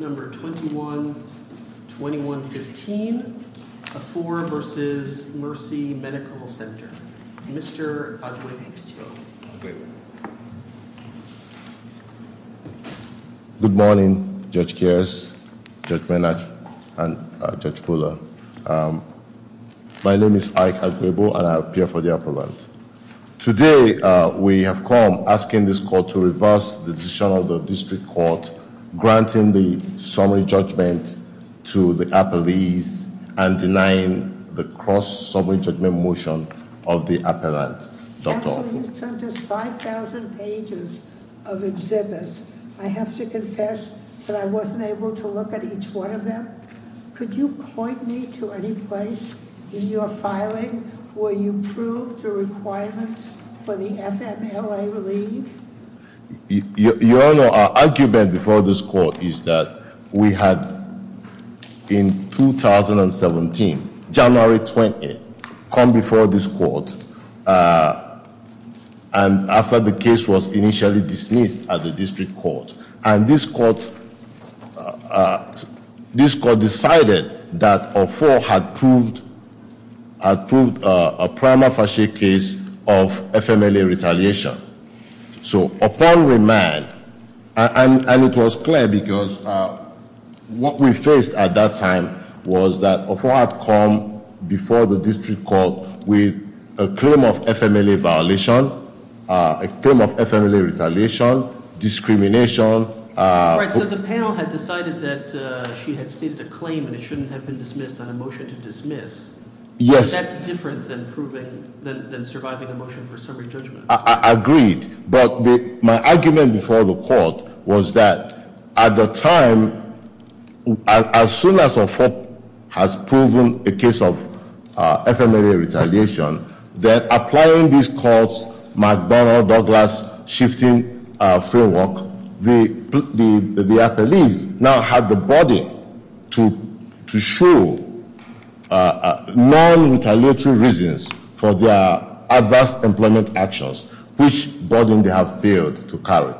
No. 21-2115, Afor v. Mercy Medical Center. Mr. Agwebu-Istio. Good morning, Judge Kears, Judge Menach, and Judge Koehler. My name is Ike Agwebu, and I appear for the appellant. Today, we have come asking this court to reverse the decision of the district court granting the summary judgment to the appellees and denying the cross-summary judgment motion of the appellant. Counsel, you sent us 5,000 pages of exhibits. I have to confess that I wasn't able to look at each one of them. Could you point me to any place in your filing where you proved the requirements for the FMLA relief? Your Honor, our argument before this court is that we had, in 2017, January 20, come before this court, and after the case was initially dismissed at the district court, and this court decided that Afor had proved a prima facie case of FMLA retaliation. So upon remand, and it was clear because what we faced at that time was that Afor had come before the district court with a claim of FMLA violation, a claim of FMLA retaliation, discrimination. Right, so the panel had decided that she had stated a claim and it shouldn't have been dismissed on a motion to dismiss. Yes. But that's different than surviving a motion for summary judgment. Agreed, but my argument before the court was that at the time, as soon as Afor has proven a case of FMLA retaliation, that applying this court's McDonnell-Douglas shifting framework, the appellees now had the burden to show non-retaliatory reasons for their adverse employment actions, which burden they have failed to carry.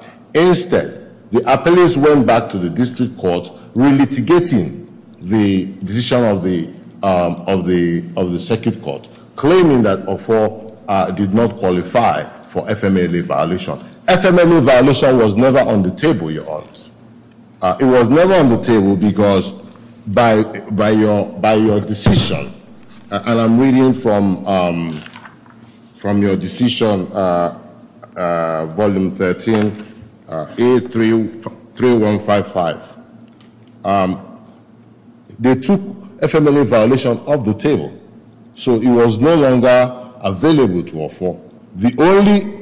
claiming that Afor did not qualify for FMLA violation. FMLA violation was never on the table, Your Honor. It was never on the table because by your decision, and I'm reading from your decision, Volume 13, A3155. They took FMLA violation off the table, so it was no longer available to Afor. The only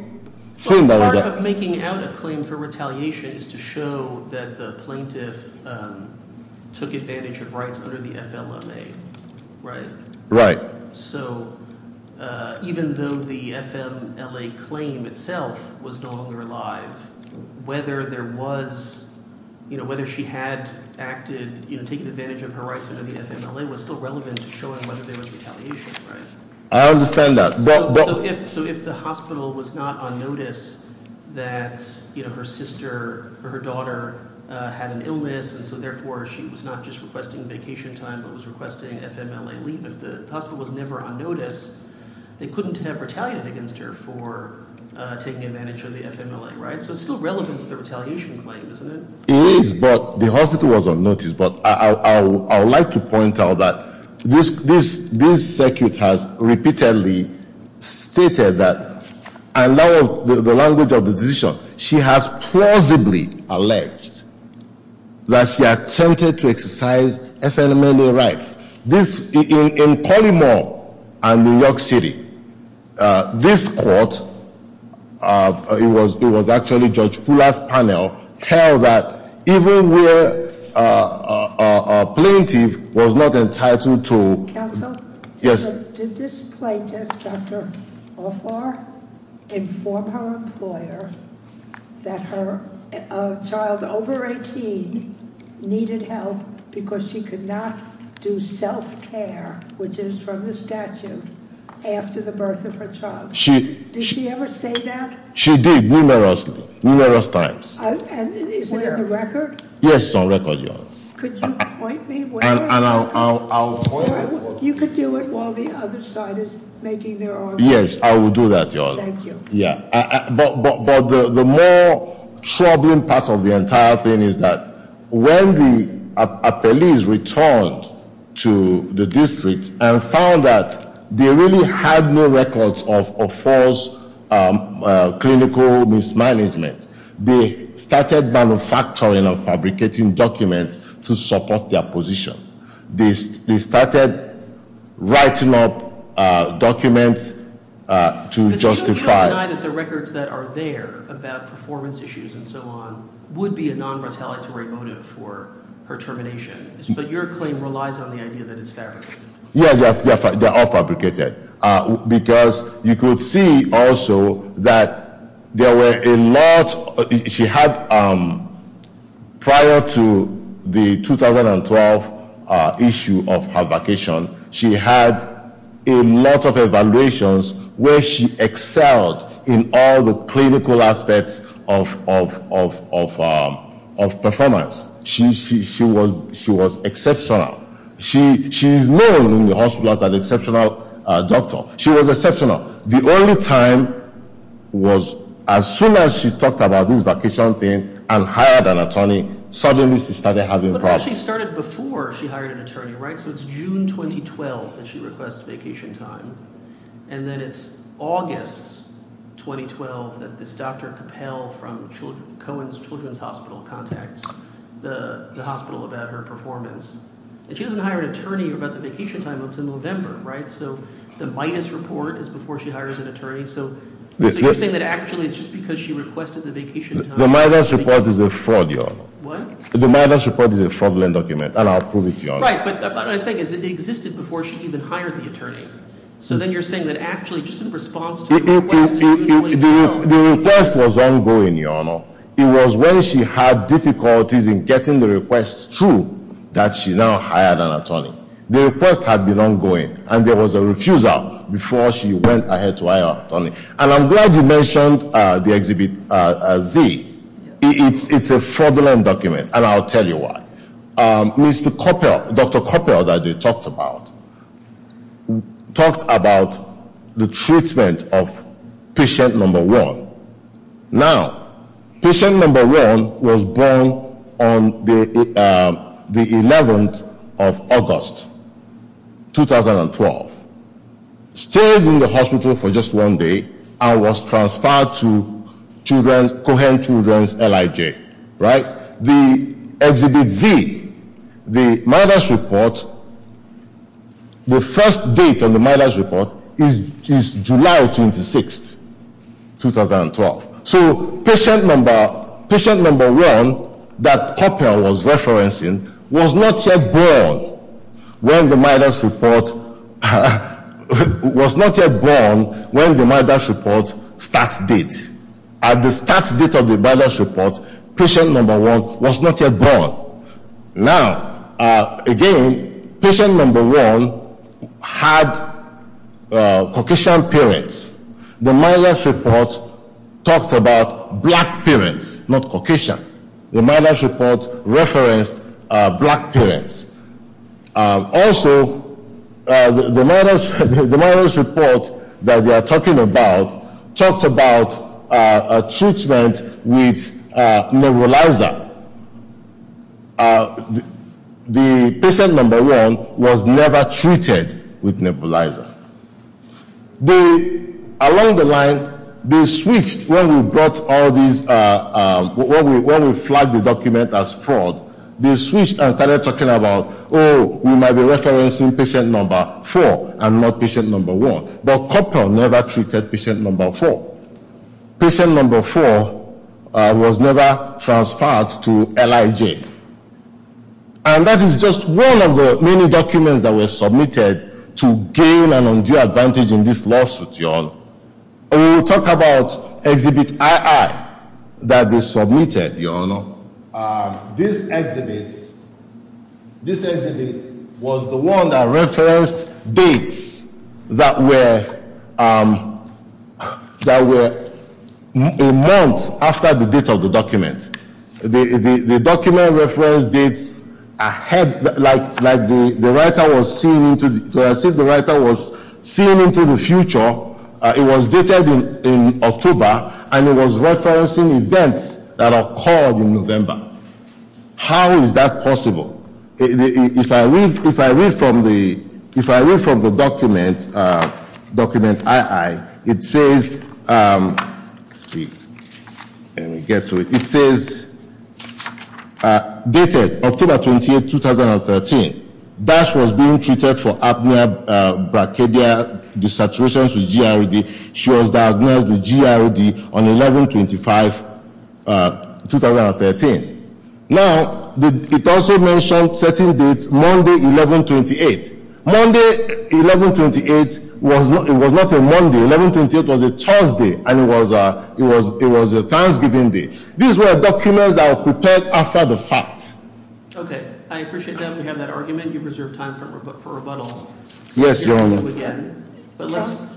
thing that was- Part of making out a claim for retaliation is to show that the plaintiff took advantage of rights under the FLMA, right? Right. So even though the FMLA claim itself was no longer alive, whether she had taken advantage of her rights under the FMLA was still relevant to showing whether there was retaliation, right? I understand that, but- they couldn't have retaliated against her for taking advantage of the FMLA, right? So it's still relevant to the retaliation claim, isn't it? It is, but the hospital was unnoticed. But I would like to point out that this circuit has repeatedly stated that, and that was the language of the decision, she has plausibly alleged that she attempted to exercise FMLA rights. In Collymore and New York City, this court, it was actually Judge Fuller's panel, held that even where a plaintiff was not entitled to- Counsel? Yes. Did this plaintiff, Dr. Offar, inform her employer that her child over 18 needed help because she could not do self-care, which is from the statute, after the birth of her child? Did she ever say that? She did, numerous times. Is it in the record? Yes, it's on record, Your Honor. Could you point me where? You could do it while the other side is making their argument. Yes, I will do that, Your Honor. Thank you. But the more troubling part of the entire thing is that when a police returned to the district and found that they really had no records of false clinical mismanagement, they started manufacturing and fabricating documents to support their position. They started writing up documents to justify- But she did not deny that the records that are there about performance issues and so on would be a non-retaliatory motive for her termination. But your claim relies on the idea that it's fabricated. Yes, they're all fabricated. Because you could see also that there were a lot- She had, prior to the 2012 issue of her vacation, she had a lot of evaluations where she excelled in all the clinical aspects of performance. She was exceptional. She is known in the hospital as an exceptional doctor. She was exceptional. The only time was as soon as she talked about this vacation thing and hired an attorney, suddenly she started having problems. But she started before she hired an attorney, right? So it's June 2012 that she requests vacation time. And then it's August 2012 that this Dr. Capel from Cohen's Children's Hospital contacts the hospital about her performance. And she doesn't hire an attorney about the vacation time until November, right? So the MIDAS report is before she hires an attorney. So you're saying that actually it's just because she requested the vacation time- The MIDAS report is a fraud, Your Honor. What? The MIDAS report is a fraudulent document, and I'll prove it to you, Your Honor. Right, but what I'm saying is it existed before she even hired the attorney. So then you're saying that actually just in response to the request- The request was ongoing, Your Honor. It was when she had difficulties in getting the request through that she now hired an attorney. The request had been ongoing, and there was a refusal before she went ahead to hire an attorney. And I'm glad you mentioned the Exhibit Z. It's a fraudulent document, and I'll tell you why. Dr. Capel that they talked about talked about the treatment of patient number one. Now, patient number one was born on the 11th of August, 2012. Stayed in the hospital for just one day and was transferred to Cohens Children's, LIJ, right? The Exhibit Z, the MIDAS report, the first date on the MIDAS report is July 26, 2012. So patient number one that Capel was referencing was not yet born when the MIDAS report- was not yet born when the MIDAS report's start date. At the start date of the MIDAS report, patient number one was not yet born. Now, again, patient number one had Caucasian parents. The MIDAS report talked about black parents, not Caucasian. The MIDAS report referenced black parents. Also, the MIDAS report that they are talking about talked about a treatment with nebulizer. The patient number one was never treated with nebulizer. Along the line, they switched when we brought all these- They switched and started talking about, oh, we might be referencing patient number four and not patient number one. But Capel never treated patient number four. Patient number four was never transferred to LIJ. And that is just one of the many documents that were submitted to gain an undue advantage in this lawsuit, y'all. We will talk about Exhibit II that they submitted, y'all. This exhibit was the one that referenced dates that were a month after the date of the document. The document referenced dates ahead, like the writer was seeing into the future. It was dated in October, and it was referencing events that occurred in November. How is that possible? If I read from the document, document II, it says dated October 28, 2013, DASH was being treated for apnea brachydia desaturation with GRD. She was diagnosed with GRD on 11-25-2013. Now, it also mentioned certain dates, Monday 11-28. Monday 11-28 was not a Monday. 11-28 was a Thursday, and it was a Thanksgiving Day. These were documents that were prepared after the fact. Okay, I appreciate that we have that argument. You've reserved time for rebuttal. Yes, Your Honor.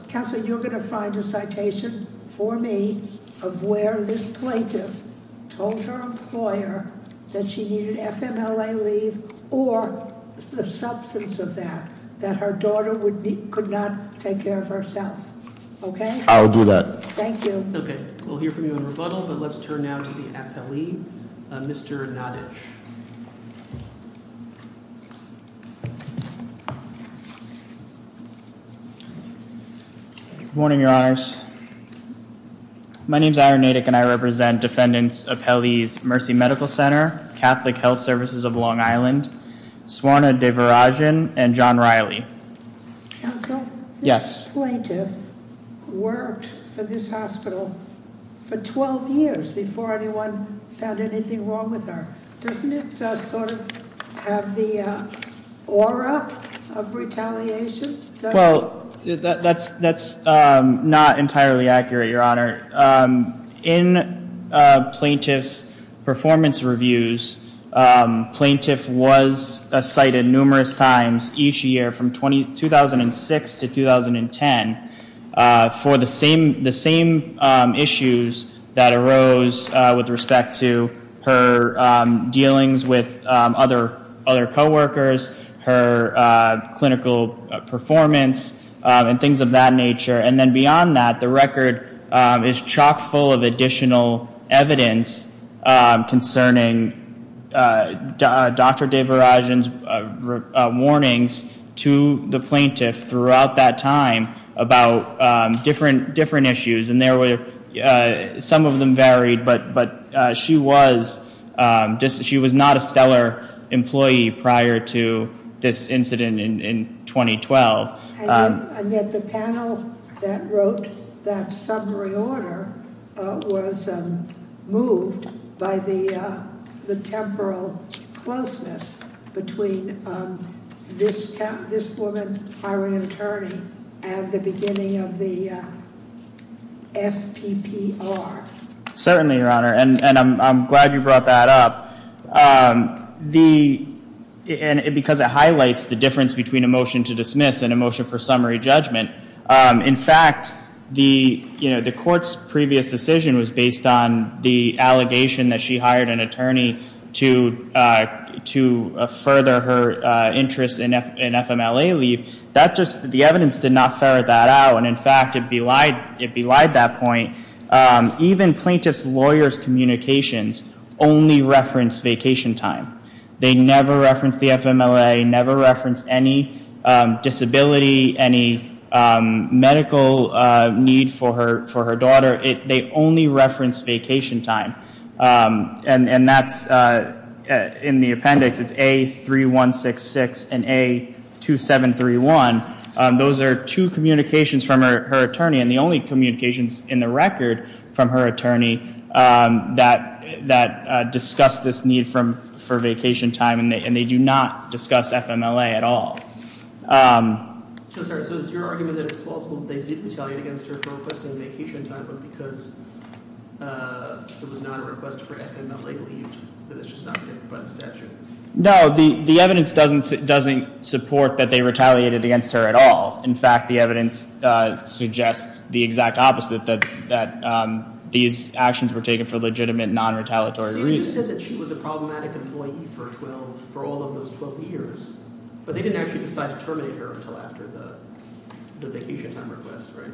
Counsel, you're going to find a citation for me of where this plaintiff told her employer that she needed FMLA leave, or the substance of that, that her daughter could not take care of herself. Okay? I'll do that. Thank you. Okay, we'll hear from you in rebuttal, but let's turn now to the appellee, Mr. Nottage. Thank you. Good morning, Your Honors. My name is Aaron Nadek, and I represent defendants appellees Mercy Medical Center, Catholic Health Services of Long Island, Swarna Devarajan, and John Riley. Counsel? Yes. This plaintiff worked for this hospital for 12 years before anyone found anything wrong with her. Doesn't it sort of have the aura of retaliation? Well, that's not entirely accurate, Your Honor. In plaintiff's performance reviews, plaintiff was cited numerous times each year from 2006 to 2010 for the same issues that arose with respect to her dealings with other coworkers, her clinical performance, and things of that nature. And then beyond that, the record is chock full of additional evidence concerning Dr. Devarajan's warnings to the plaintiff throughout that time about different issues, and some of them varied, but she was not a stellar employee prior to this incident in 2012. And yet the panel that wrote that summary order was moved by the temporal closeness between this woman hiring an attorney and the beginning of the FPPR. Certainly, Your Honor, and I'm glad you brought that up. Because it highlights the difference between a motion to dismiss and a motion for summary judgment. In fact, the court's previous decision was based on the allegation that she hired an attorney to further her interest in FMLA leave. The evidence did not ferret that out, and in fact, it belied that point. Even plaintiff's lawyer's communications only referenced vacation time. They never referenced the FMLA, never referenced any disability, any medical need for her daughter. They only referenced vacation time, and that's in the appendix. It's A3166 and A2731. Those are two communications from her attorney, and the only communications in the record from her attorney that discuss this need for vacation time, and they do not discuss FMLA at all. I'm sorry. So it's your argument that it's plausible that they did retaliate against her for requesting vacation time, but because it was not a request for FMLA leave, that it's just not connected by the statute? No, the evidence doesn't support that they retaliated against her at all. In fact, the evidence suggests the exact opposite, that these actions were taken for legitimate, non-retaliatory reasons. So it just says that she was a problematic employee for all of those 12 years, but they didn't actually decide to terminate her until after the vacation time request, right?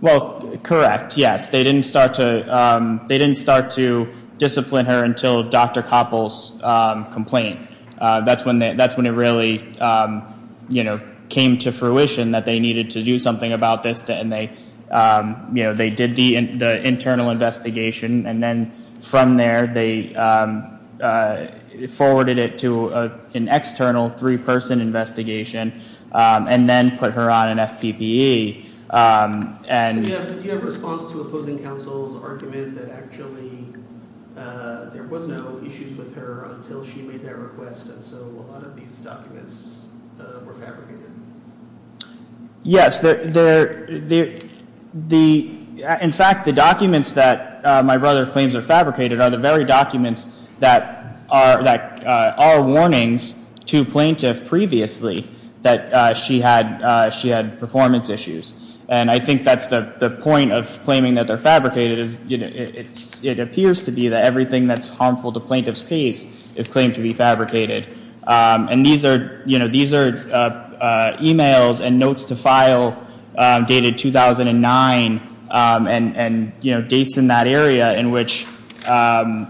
Well, correct, yes. They didn't start to discipline her until Dr. Koppel's complaint. That's when it really came to fruition that they needed to do something about this, and they did the internal investigation, and then from there, they forwarded it to an external three-person investigation, and then put her on an FPPE. So do you have a response to opposing counsel's argument that actually there was no issues with her until she made that request, and so a lot of these documents were fabricated? Yes. In fact, the documents that my brother claims are fabricated are the very documents that are warnings to plaintiff previously that she had performance issues, and I think that's the point of claiming that they're fabricated. It appears to be that everything that's harmful to plaintiff's case is claimed to be fabricated, and these are e-mails and notes to file dated 2009 and dates in that area in which Dr.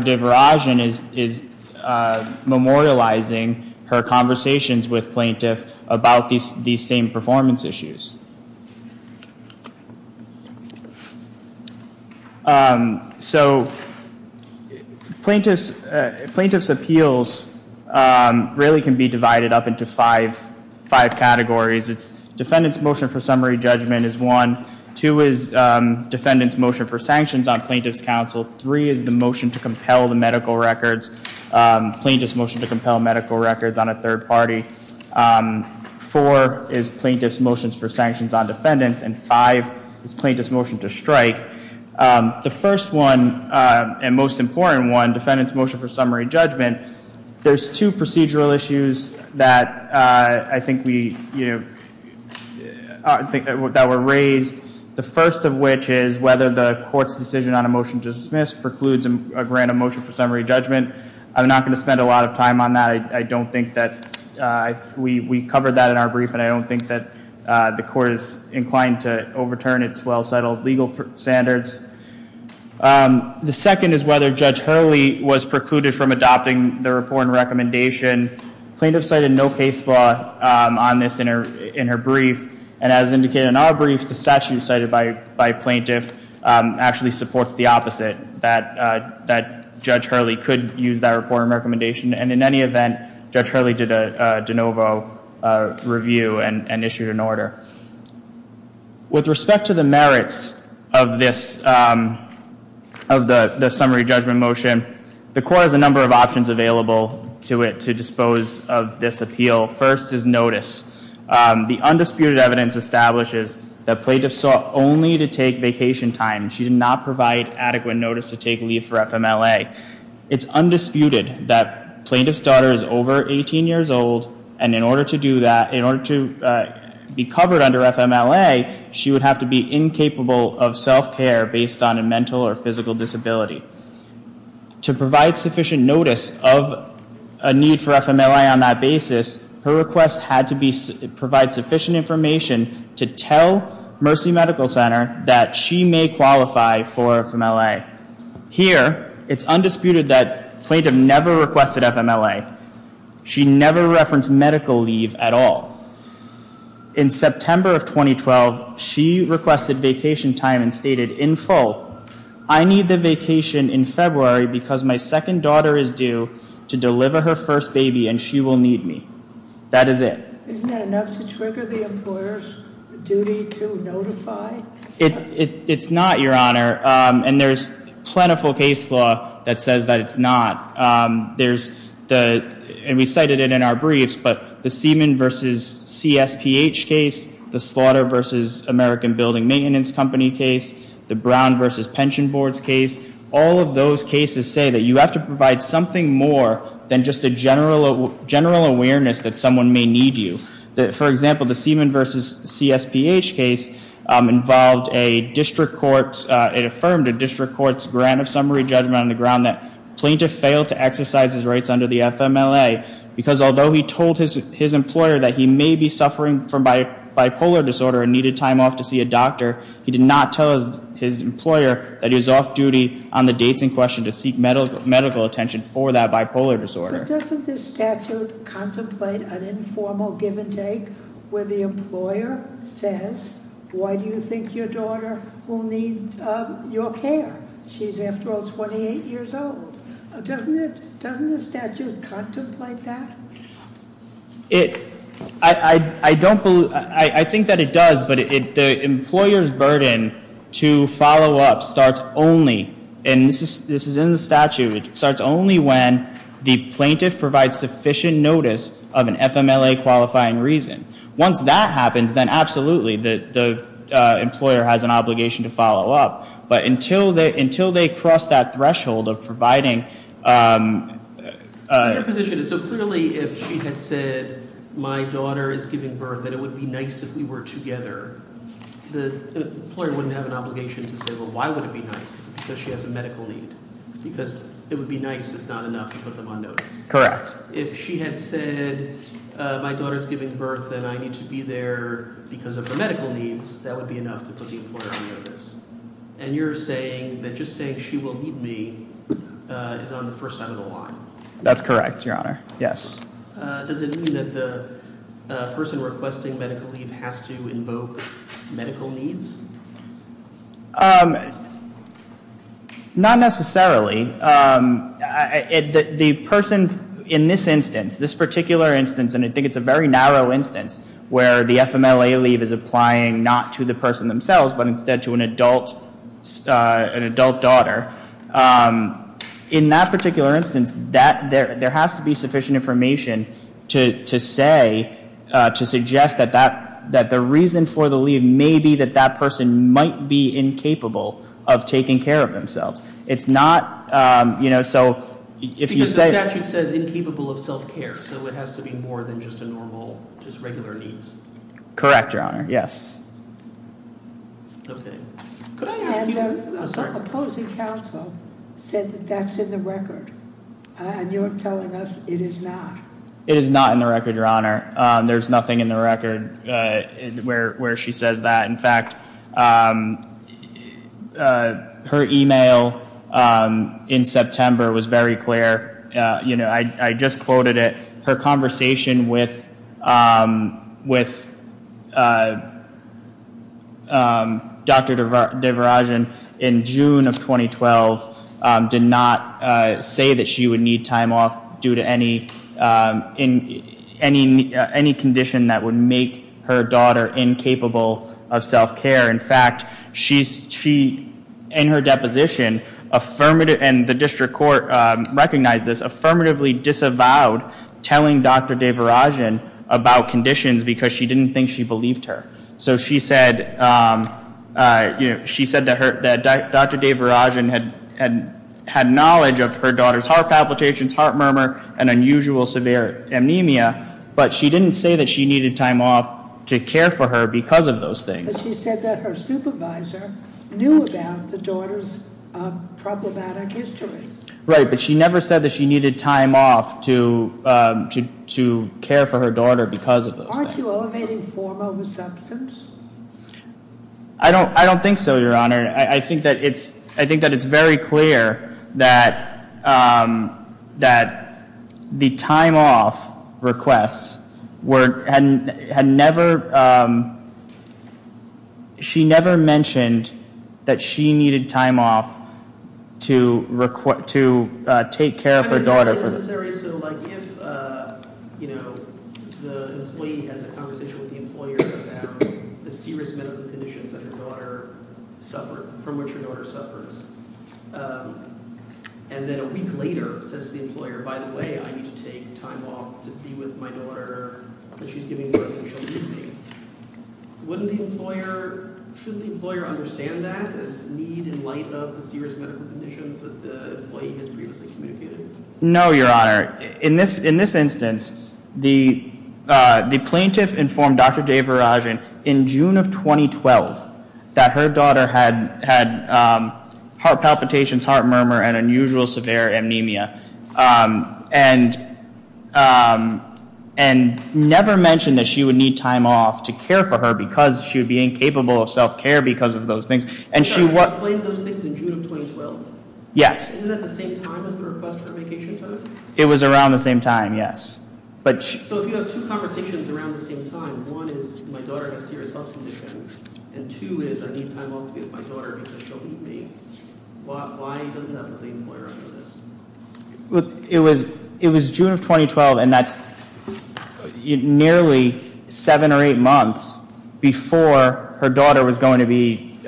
Deverajan is memorializing her conversations with plaintiff about these same performance issues. So plaintiff's appeals really can be divided up into five categories. Defendant's motion for summary judgment is one. Two is defendant's motion for sanctions on plaintiff's counsel. Three is the motion to compel the medical records, plaintiff's motion to compel medical records on a third party. And five is plaintiff's motion to strike. The first one and most important one, defendant's motion for summary judgment, there's two procedural issues that I think were raised, the first of which is whether the court's decision on a motion to dismiss precludes a grant of motion for summary judgment. I'm not going to spend a lot of time on that. I don't think that we covered that in our brief, and I don't think that the court is inclined to overturn its well-settled legal standards. The second is whether Judge Hurley was precluded from adopting the report and recommendation. Plaintiff cited no case law on this in her brief, and as indicated in our brief, the statute cited by plaintiff actually supports the opposite, that Judge Hurley could use that report and recommendation. And in any event, Judge Hurley did a de novo review and issued an order. With respect to the merits of the summary judgment motion, the court has a number of options available to it to dispose of this appeal. First is notice. The undisputed evidence establishes that plaintiff sought only to take vacation time. She did not provide adequate notice to take leave for FMLA. It's undisputed that plaintiff's daughter is over 18 years old, and in order to do that, in order to be covered under FMLA, she would have to be incapable of self-care based on a mental or physical disability. To provide sufficient notice of a need for FMLA on that basis, her request had to provide sufficient information to tell Mercy Medical Center that she may qualify for FMLA. Here, it's undisputed that plaintiff never requested FMLA. She never referenced medical leave at all. In September of 2012, she requested vacation time and stated in full, I need the vacation in February because my second daughter is due to deliver her first baby and she will need me. That is it. Isn't that enough to trigger the employer's duty to notify? It's not, Your Honor, and there's plentiful case law that says that it's not. There's the, and we cited it in our briefs, but the Seaman v. CSPH case, the Slaughter v. American Building Maintenance Company case, the Brown v. Pension Boards case, all of those cases say that you have to provide something more than just a general awareness that someone may need you. For example, the Seaman v. CSPH case involved a district court, it affirmed a district court's grant of summary judgment on the ground that plaintiff failed to exercise his rights under the FMLA. Because although he told his employer that he may be suffering from bipolar disorder and needed time off to see a doctor, he did not tell his employer that he was off duty on the dates in question to seek medical attention for that bipolar disorder. Doesn't this statute contemplate an informal give and take where the employer says, why do you think your daughter will need your care? She's after all 28 years old. Doesn't the statute contemplate that? I think that it does, but the employer's burden to follow up starts only, and this is in the statute, it starts only when the plaintiff provides sufficient notice of an FMLA qualifying reason. Once that happens, then absolutely, the employer has an obligation to follow up. But until they cross that threshold of providing- Your position is, so clearly if she had said, my daughter is giving birth, that it would be nice if we were together, the employer wouldn't have an obligation to say, well, why would it be nice? Because she has a medical need. Because it would be nice is not enough to put them on notice. Correct. If she had said, my daughter's giving birth and I need to be there because of her medical needs, that would be enough to put the employer on notice. And you're saying that just saying she will need me is on the first side of the line. That's correct, Your Honor. Yes. Does it mean that the person requesting medical leave has to invoke medical needs? Not necessarily. The person in this instance, this particular instance, and I think it's a very narrow instance, where the FMLA leave is applying not to the person themselves, but instead to an adult daughter. In that particular instance, there has to be sufficient information to say, to suggest that the reason for the leave may be that that person might be incapable of taking care of themselves. It's not, you know, so if you say- Because the statute says incapable of self-care, so it has to be more than just a normal, just regular needs. Correct, Your Honor. Yes. Okay. Could I ask you- And an opposing counsel said that that's in the record, and you're telling us it is not. It is not in the record, Your Honor. There's nothing in the record where she says that. In fact, her email in September was very clear. You know, I just quoted it. Her conversation with Dr. DeVarajan in June of 2012 did not say that she would need time off due to any condition that would make her daughter incapable of self-care. In fact, she, in her deposition, and the district court recognized this, affirmatively disavowed telling Dr. DeVarajan about conditions because she didn't think she believed her. So she said that Dr. DeVarajan had knowledge of her daughter's heart palpitations, heart murmur, and unusual severe anemia, but she didn't say that she needed time off to care for her because of those things. But she said that her supervisor knew about the daughter's problematic history. Right, but she never said that she needed time off to care for her daughter because of those things. Aren't you elevating form over substance? I don't think so, Your Honor. I think that it's very clear that the time off requests had never, she never mentioned that she needed time off to take care of her daughter. So if the employee has a conversation with the employer about the serious medical conditions that her daughter suffered, from which her daughter suffers, and then a week later says to the employer, by the way, I need to take time off to be with my daughter because she's giving birth and she'll need me, wouldn't the employer, shouldn't the employer understand that as need in light of the serious medical conditions that the employee has previously communicated? No, Your Honor. In this instance, the plaintiff informed Dr. Devarajan in June of 2012 that her daughter had heart palpitations, heart murmur, and unusual severe anemia, and never mentioned that she would need time off to care for her because she would be incapable of self-care because of those things. So she explained those things in June of 2012? Yes. Isn't that the same time as the request for vacation time? It was around the same time, yes. So if you have two conversations around the same time, one is my daughter has serious health conditions, and two is I need time off to be with my daughter because she'll need me, why doesn't that put the employer under this? It was June of 2012, and that's nearly seven or eight months before her daughter was going to be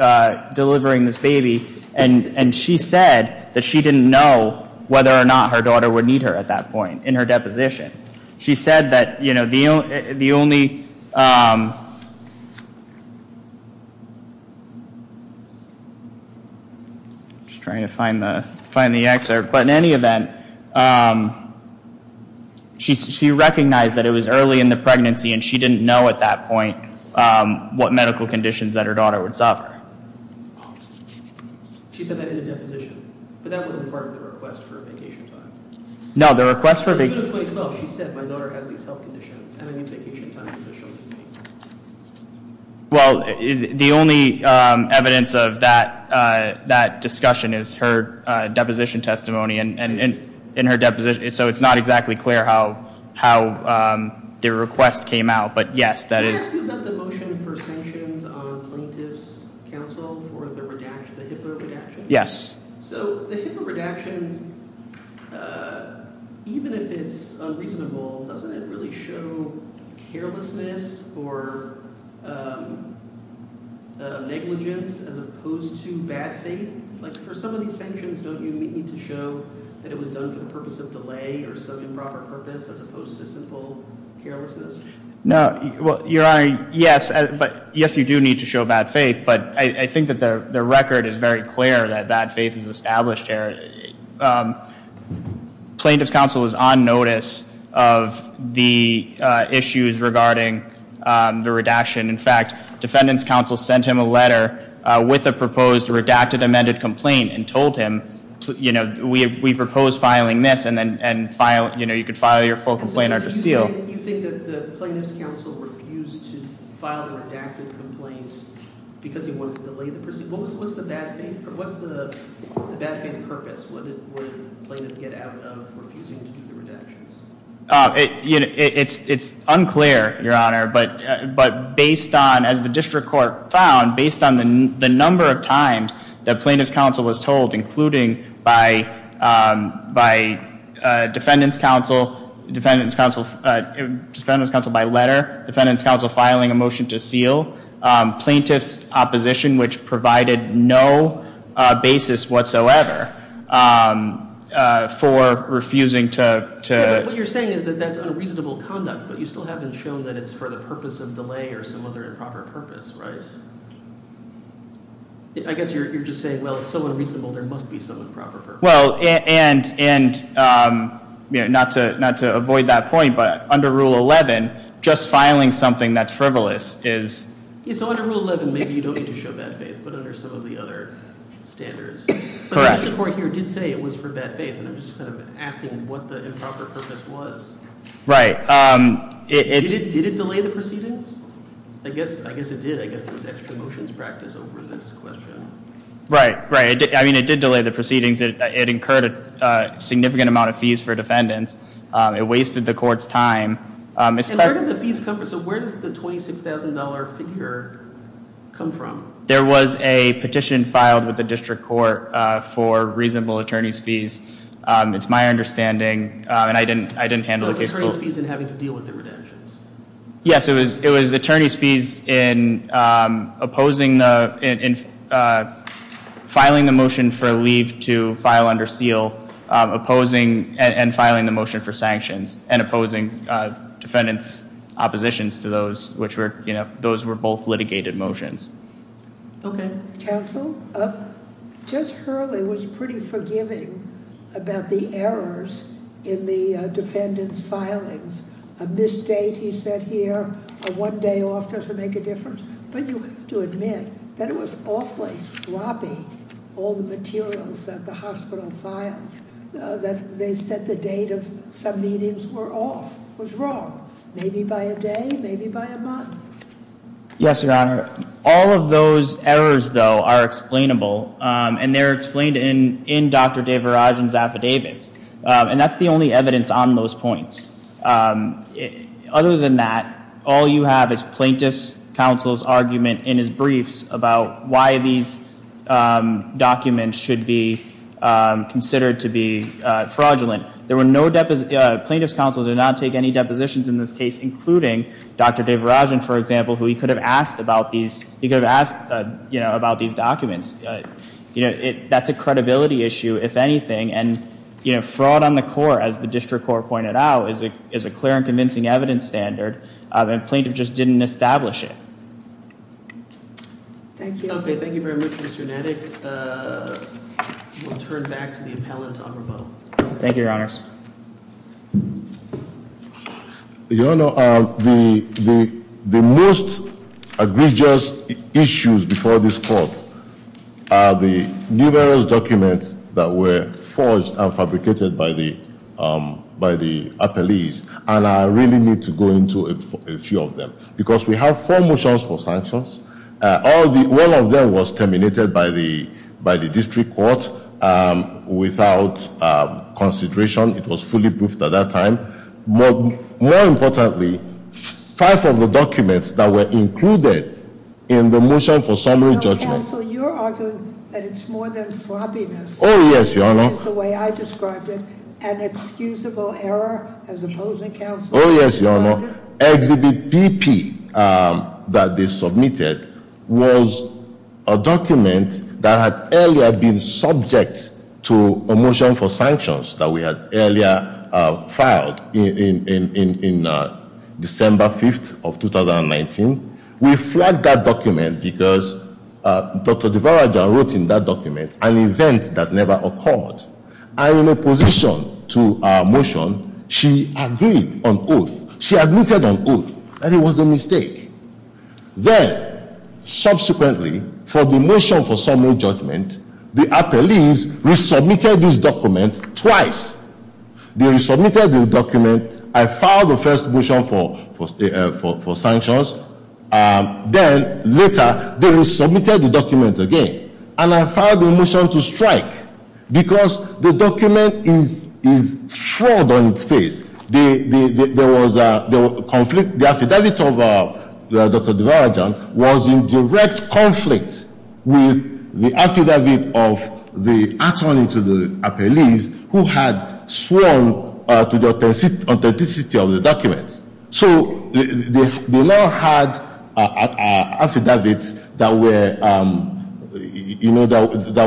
delivering this baby, and she said that she didn't know whether or not her daughter would need her at that point in her deposition. She said that the only, I'm just trying to find the excerpt, but in any event, she recognized that it was early in the pregnancy, and she didn't know at that point what medical conditions that her daughter would suffer. She said that in a deposition, but that wasn't part of the request for vacation time? No, the request for vacation time. In June of 2012, she said my daughter has these health conditions, and I need vacation time because she'll need me. Well, the only evidence of that discussion is her deposition testimony, and in her deposition, so it's not exactly clear how the request came out, but yes, that is. Can I ask you about the motion for sanctions on plaintiff's counsel for the HIPAA redaction? Yes. So the HIPAA redactions, even if it's unreasonable, doesn't it really show carelessness or negligence as opposed to bad faith? Like for some of these sanctions, don't you need to show that it was done for the purpose of delay or some improper purpose as opposed to simple carelessness? No, well, Your Honor, yes, but yes, you do need to show bad faith, but I think that the record is very clear that bad faith is established here. Plaintiff's counsel was on notice of the issues regarding the redaction. In fact, defendant's counsel sent him a letter with a proposed redacted amended complaint and told him, we propose filing this, and you could file your full complaint under seal. So you think that the plaintiff's counsel refused to file the redacted complaint because he wanted to delay the procedure? What's the bad faith purpose? What did the plaintiff get out of refusing to do the redactions? It's unclear, Your Honor, but as the district court found, based on the number of times that plaintiff's counsel was told, including by defendant's counsel, defendant's counsel by letter, defendant's counsel filing a motion to seal, plaintiff's opposition, which provided no basis whatsoever for refusing to. What you're saying is that that's unreasonable conduct, but you still haven't shown that it's for the purpose of delay or some other improper purpose, right? I guess you're just saying, well, it's so unreasonable, there must be some improper purpose. Well, and not to avoid that point, but under Rule 11, just filing something that's frivolous is. So under Rule 11, maybe you don't need to show bad faith, but under some of the other standards. Correct. The district court here did say it was for bad faith, and I'm just kind of asking what the improper purpose was. Right. Did it delay the proceedings? I guess it did. I guess there was extra motions practice over this question. Right, right. I mean, it did delay the proceedings. It incurred a significant amount of fees for defendants. It wasted the court's time. And where did the fees come from? So where does the $26,000 figure come from? There was a petition filed with the district court for reasonable attorney's fees. It's my understanding, and I didn't handle the case. So it was attorney's fees in having to deal with the redemptions. Yes, it was attorney's fees in opposing the, in filing the motion for leave to file under seal, opposing and filing the motion for sanctions, and opposing defendants' oppositions to those. Those were both litigated motions. Okay. Counsel, Judge Hurley was pretty forgiving about the errors in the defendants' filings. A misstate, he said here, a one day off doesn't make a difference. But you have to admit that it was awfully sloppy, all the materials that the hospital filed, that they set the date of some meetings were off, was wrong. Maybe by a day, maybe by a month. Yes, Your Honor. All of those errors, though, are explainable, and they're explained in Dr. DeVirajan's affidavits. And that's the only evidence on those points. Other than that, all you have is plaintiff's counsel's argument in his briefs about why these documents should be considered to be fraudulent. There were no, plaintiff's counsel did not take any depositions in this case, including Dr. DeVirajan, for example, who he could have asked about these, he could have asked, you know, about these documents. You know, that's a credibility issue, if anything. And, you know, fraud on the court, as the district court pointed out, is a clear and convincing evidence standard, and plaintiff just didn't establish it. Thank you. Okay, thank you very much, Mr. Nettig. We'll turn back to the appellant on rebuttal. Thank you, Your Honors. Your Honor, the most egregious issues before this court are the numerous documents that were forged and fabricated by the appellees, and I really need to go into a few of them. Because we have four motions for sanctions. One of them was terminated by the district court without consideration. It was fully proofed at that time. More importantly, five of the documents that were included in the motion for summary judgment. Your Honor, counsel, you're arguing that it's more than sloppiness. Oh, yes, Your Honor. It's the way I described it, an excusable error as opposed to counsel. Oh, yes, Your Honor. Exhibit BP that they submitted was a document that had earlier been subject to a motion for sanctions that we had earlier filed in December 5th of 2019. We flagged that document because Dr. DeVarajan wrote in that document an event that never occurred. And in opposition to our motion, she agreed on oath. She admitted on oath that it was a mistake. Then, subsequently, for the motion for summary judgment, the appellees resubmitted this document twice. They resubmitted the document. I filed the first motion for sanctions. Then, later, they resubmitted the document again. And I filed the motion to strike because the document is fraud on its face. There was a conflict. The affidavit of Dr. DeVarajan was in direct conflict with the affidavit of the attorney to the appellees who had sworn to the authenticity of the documents. So they now had affidavits that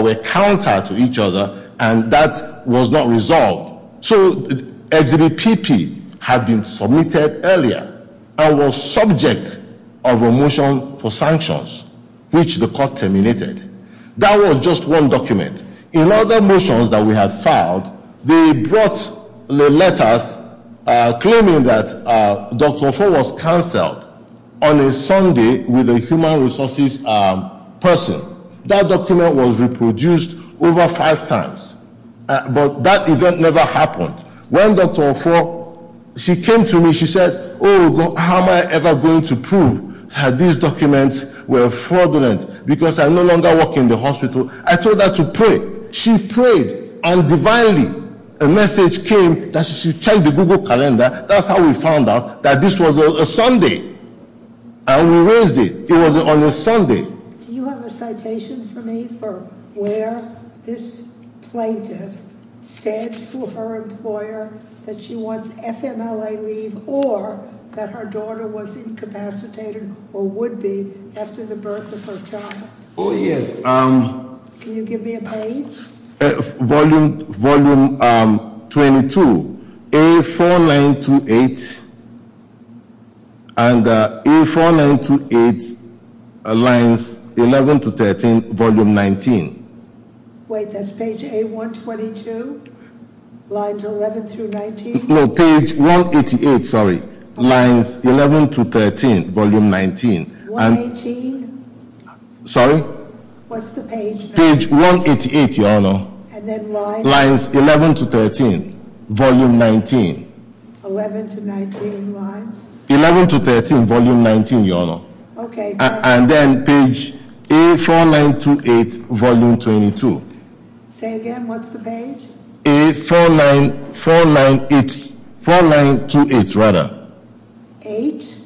were counter to each other, and that was not resolved. So Exhibit BP had been submitted earlier and was subject of a motion for sanctions, which the court terminated. That was just one document. In other motions that we had filed, they brought the letters claiming that Dr. Ofo was canceled on a Sunday with a human resources person. That document was reproduced over five times, but that event never happened. When Dr. Ofo, she came to me, she said, oh, how am I ever going to prove that these documents were fraudulent because I no longer work in the hospital? I told her to pray. She prayed, and divinely a message came that she should check the Google Calendar. That's how we found out that this was a Sunday, and we raised it. It was on a Sunday. Do you have a citation for me for where this plaintiff said to her employer that she wants FMLA leave or that her daughter was incapacitated or would be after the birth of her child? Oh, yes. Can you give me a page? Volume 22, A4928. And A4928, lines 11 to 13, volume 19. Wait, that's page A122? Lines 11 through 19? No, page 188, sorry. Lines 11 to 13, volume 19. Page 118? Sorry? What's the page? Page 188, Your Honor. And then lines? Lines 11 to 13, volume 19. 11 to 19 lines? 11 to 13, volume 19, Your Honor. Okay. And then page A4928, volume 22. Say again, what's the page? A4928, rather. Eight?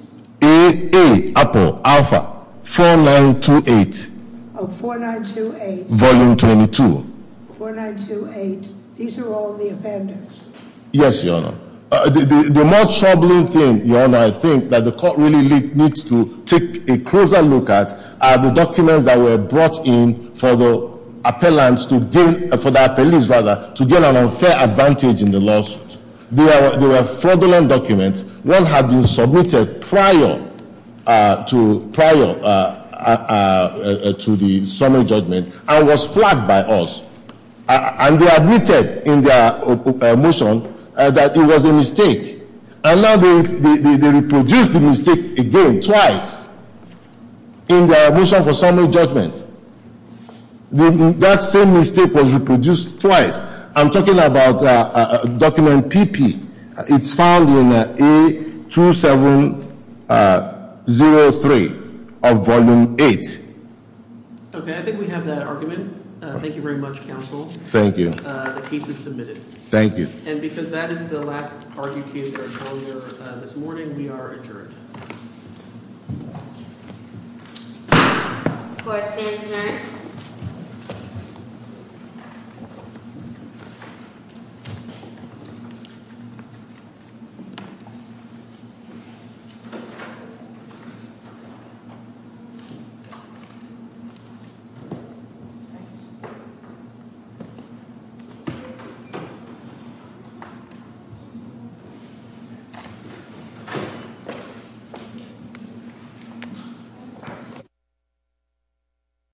A, A, Apple, Alpha, 4928. Oh, 4928. Volume 22. 4928. These are all the offenders. Yes, Your Honor. The most troubling thing, Your Honor, I think that the court really needs to take a closer look at are the documents that were brought in for the appellants to gain, for the appellees rather, to gain an unfair advantage in the lawsuit. They were fraudulent documents. One had been submitted prior to the summary judgment and was flagged by us. And they admitted in their motion that it was a mistake. And now they reproduced the mistake again, twice, in their motion for summary judgment. That same mistake was reproduced twice. I'm talking about document PP. It's found in A2703 of volume 8. Okay. I think we have that argument. Thank you very much, counsel. Thank you. The case is submitted. Thank you. And because that is the last argued case that we're calling here this morning, we are adjourned. Court is adjourned. Thank you.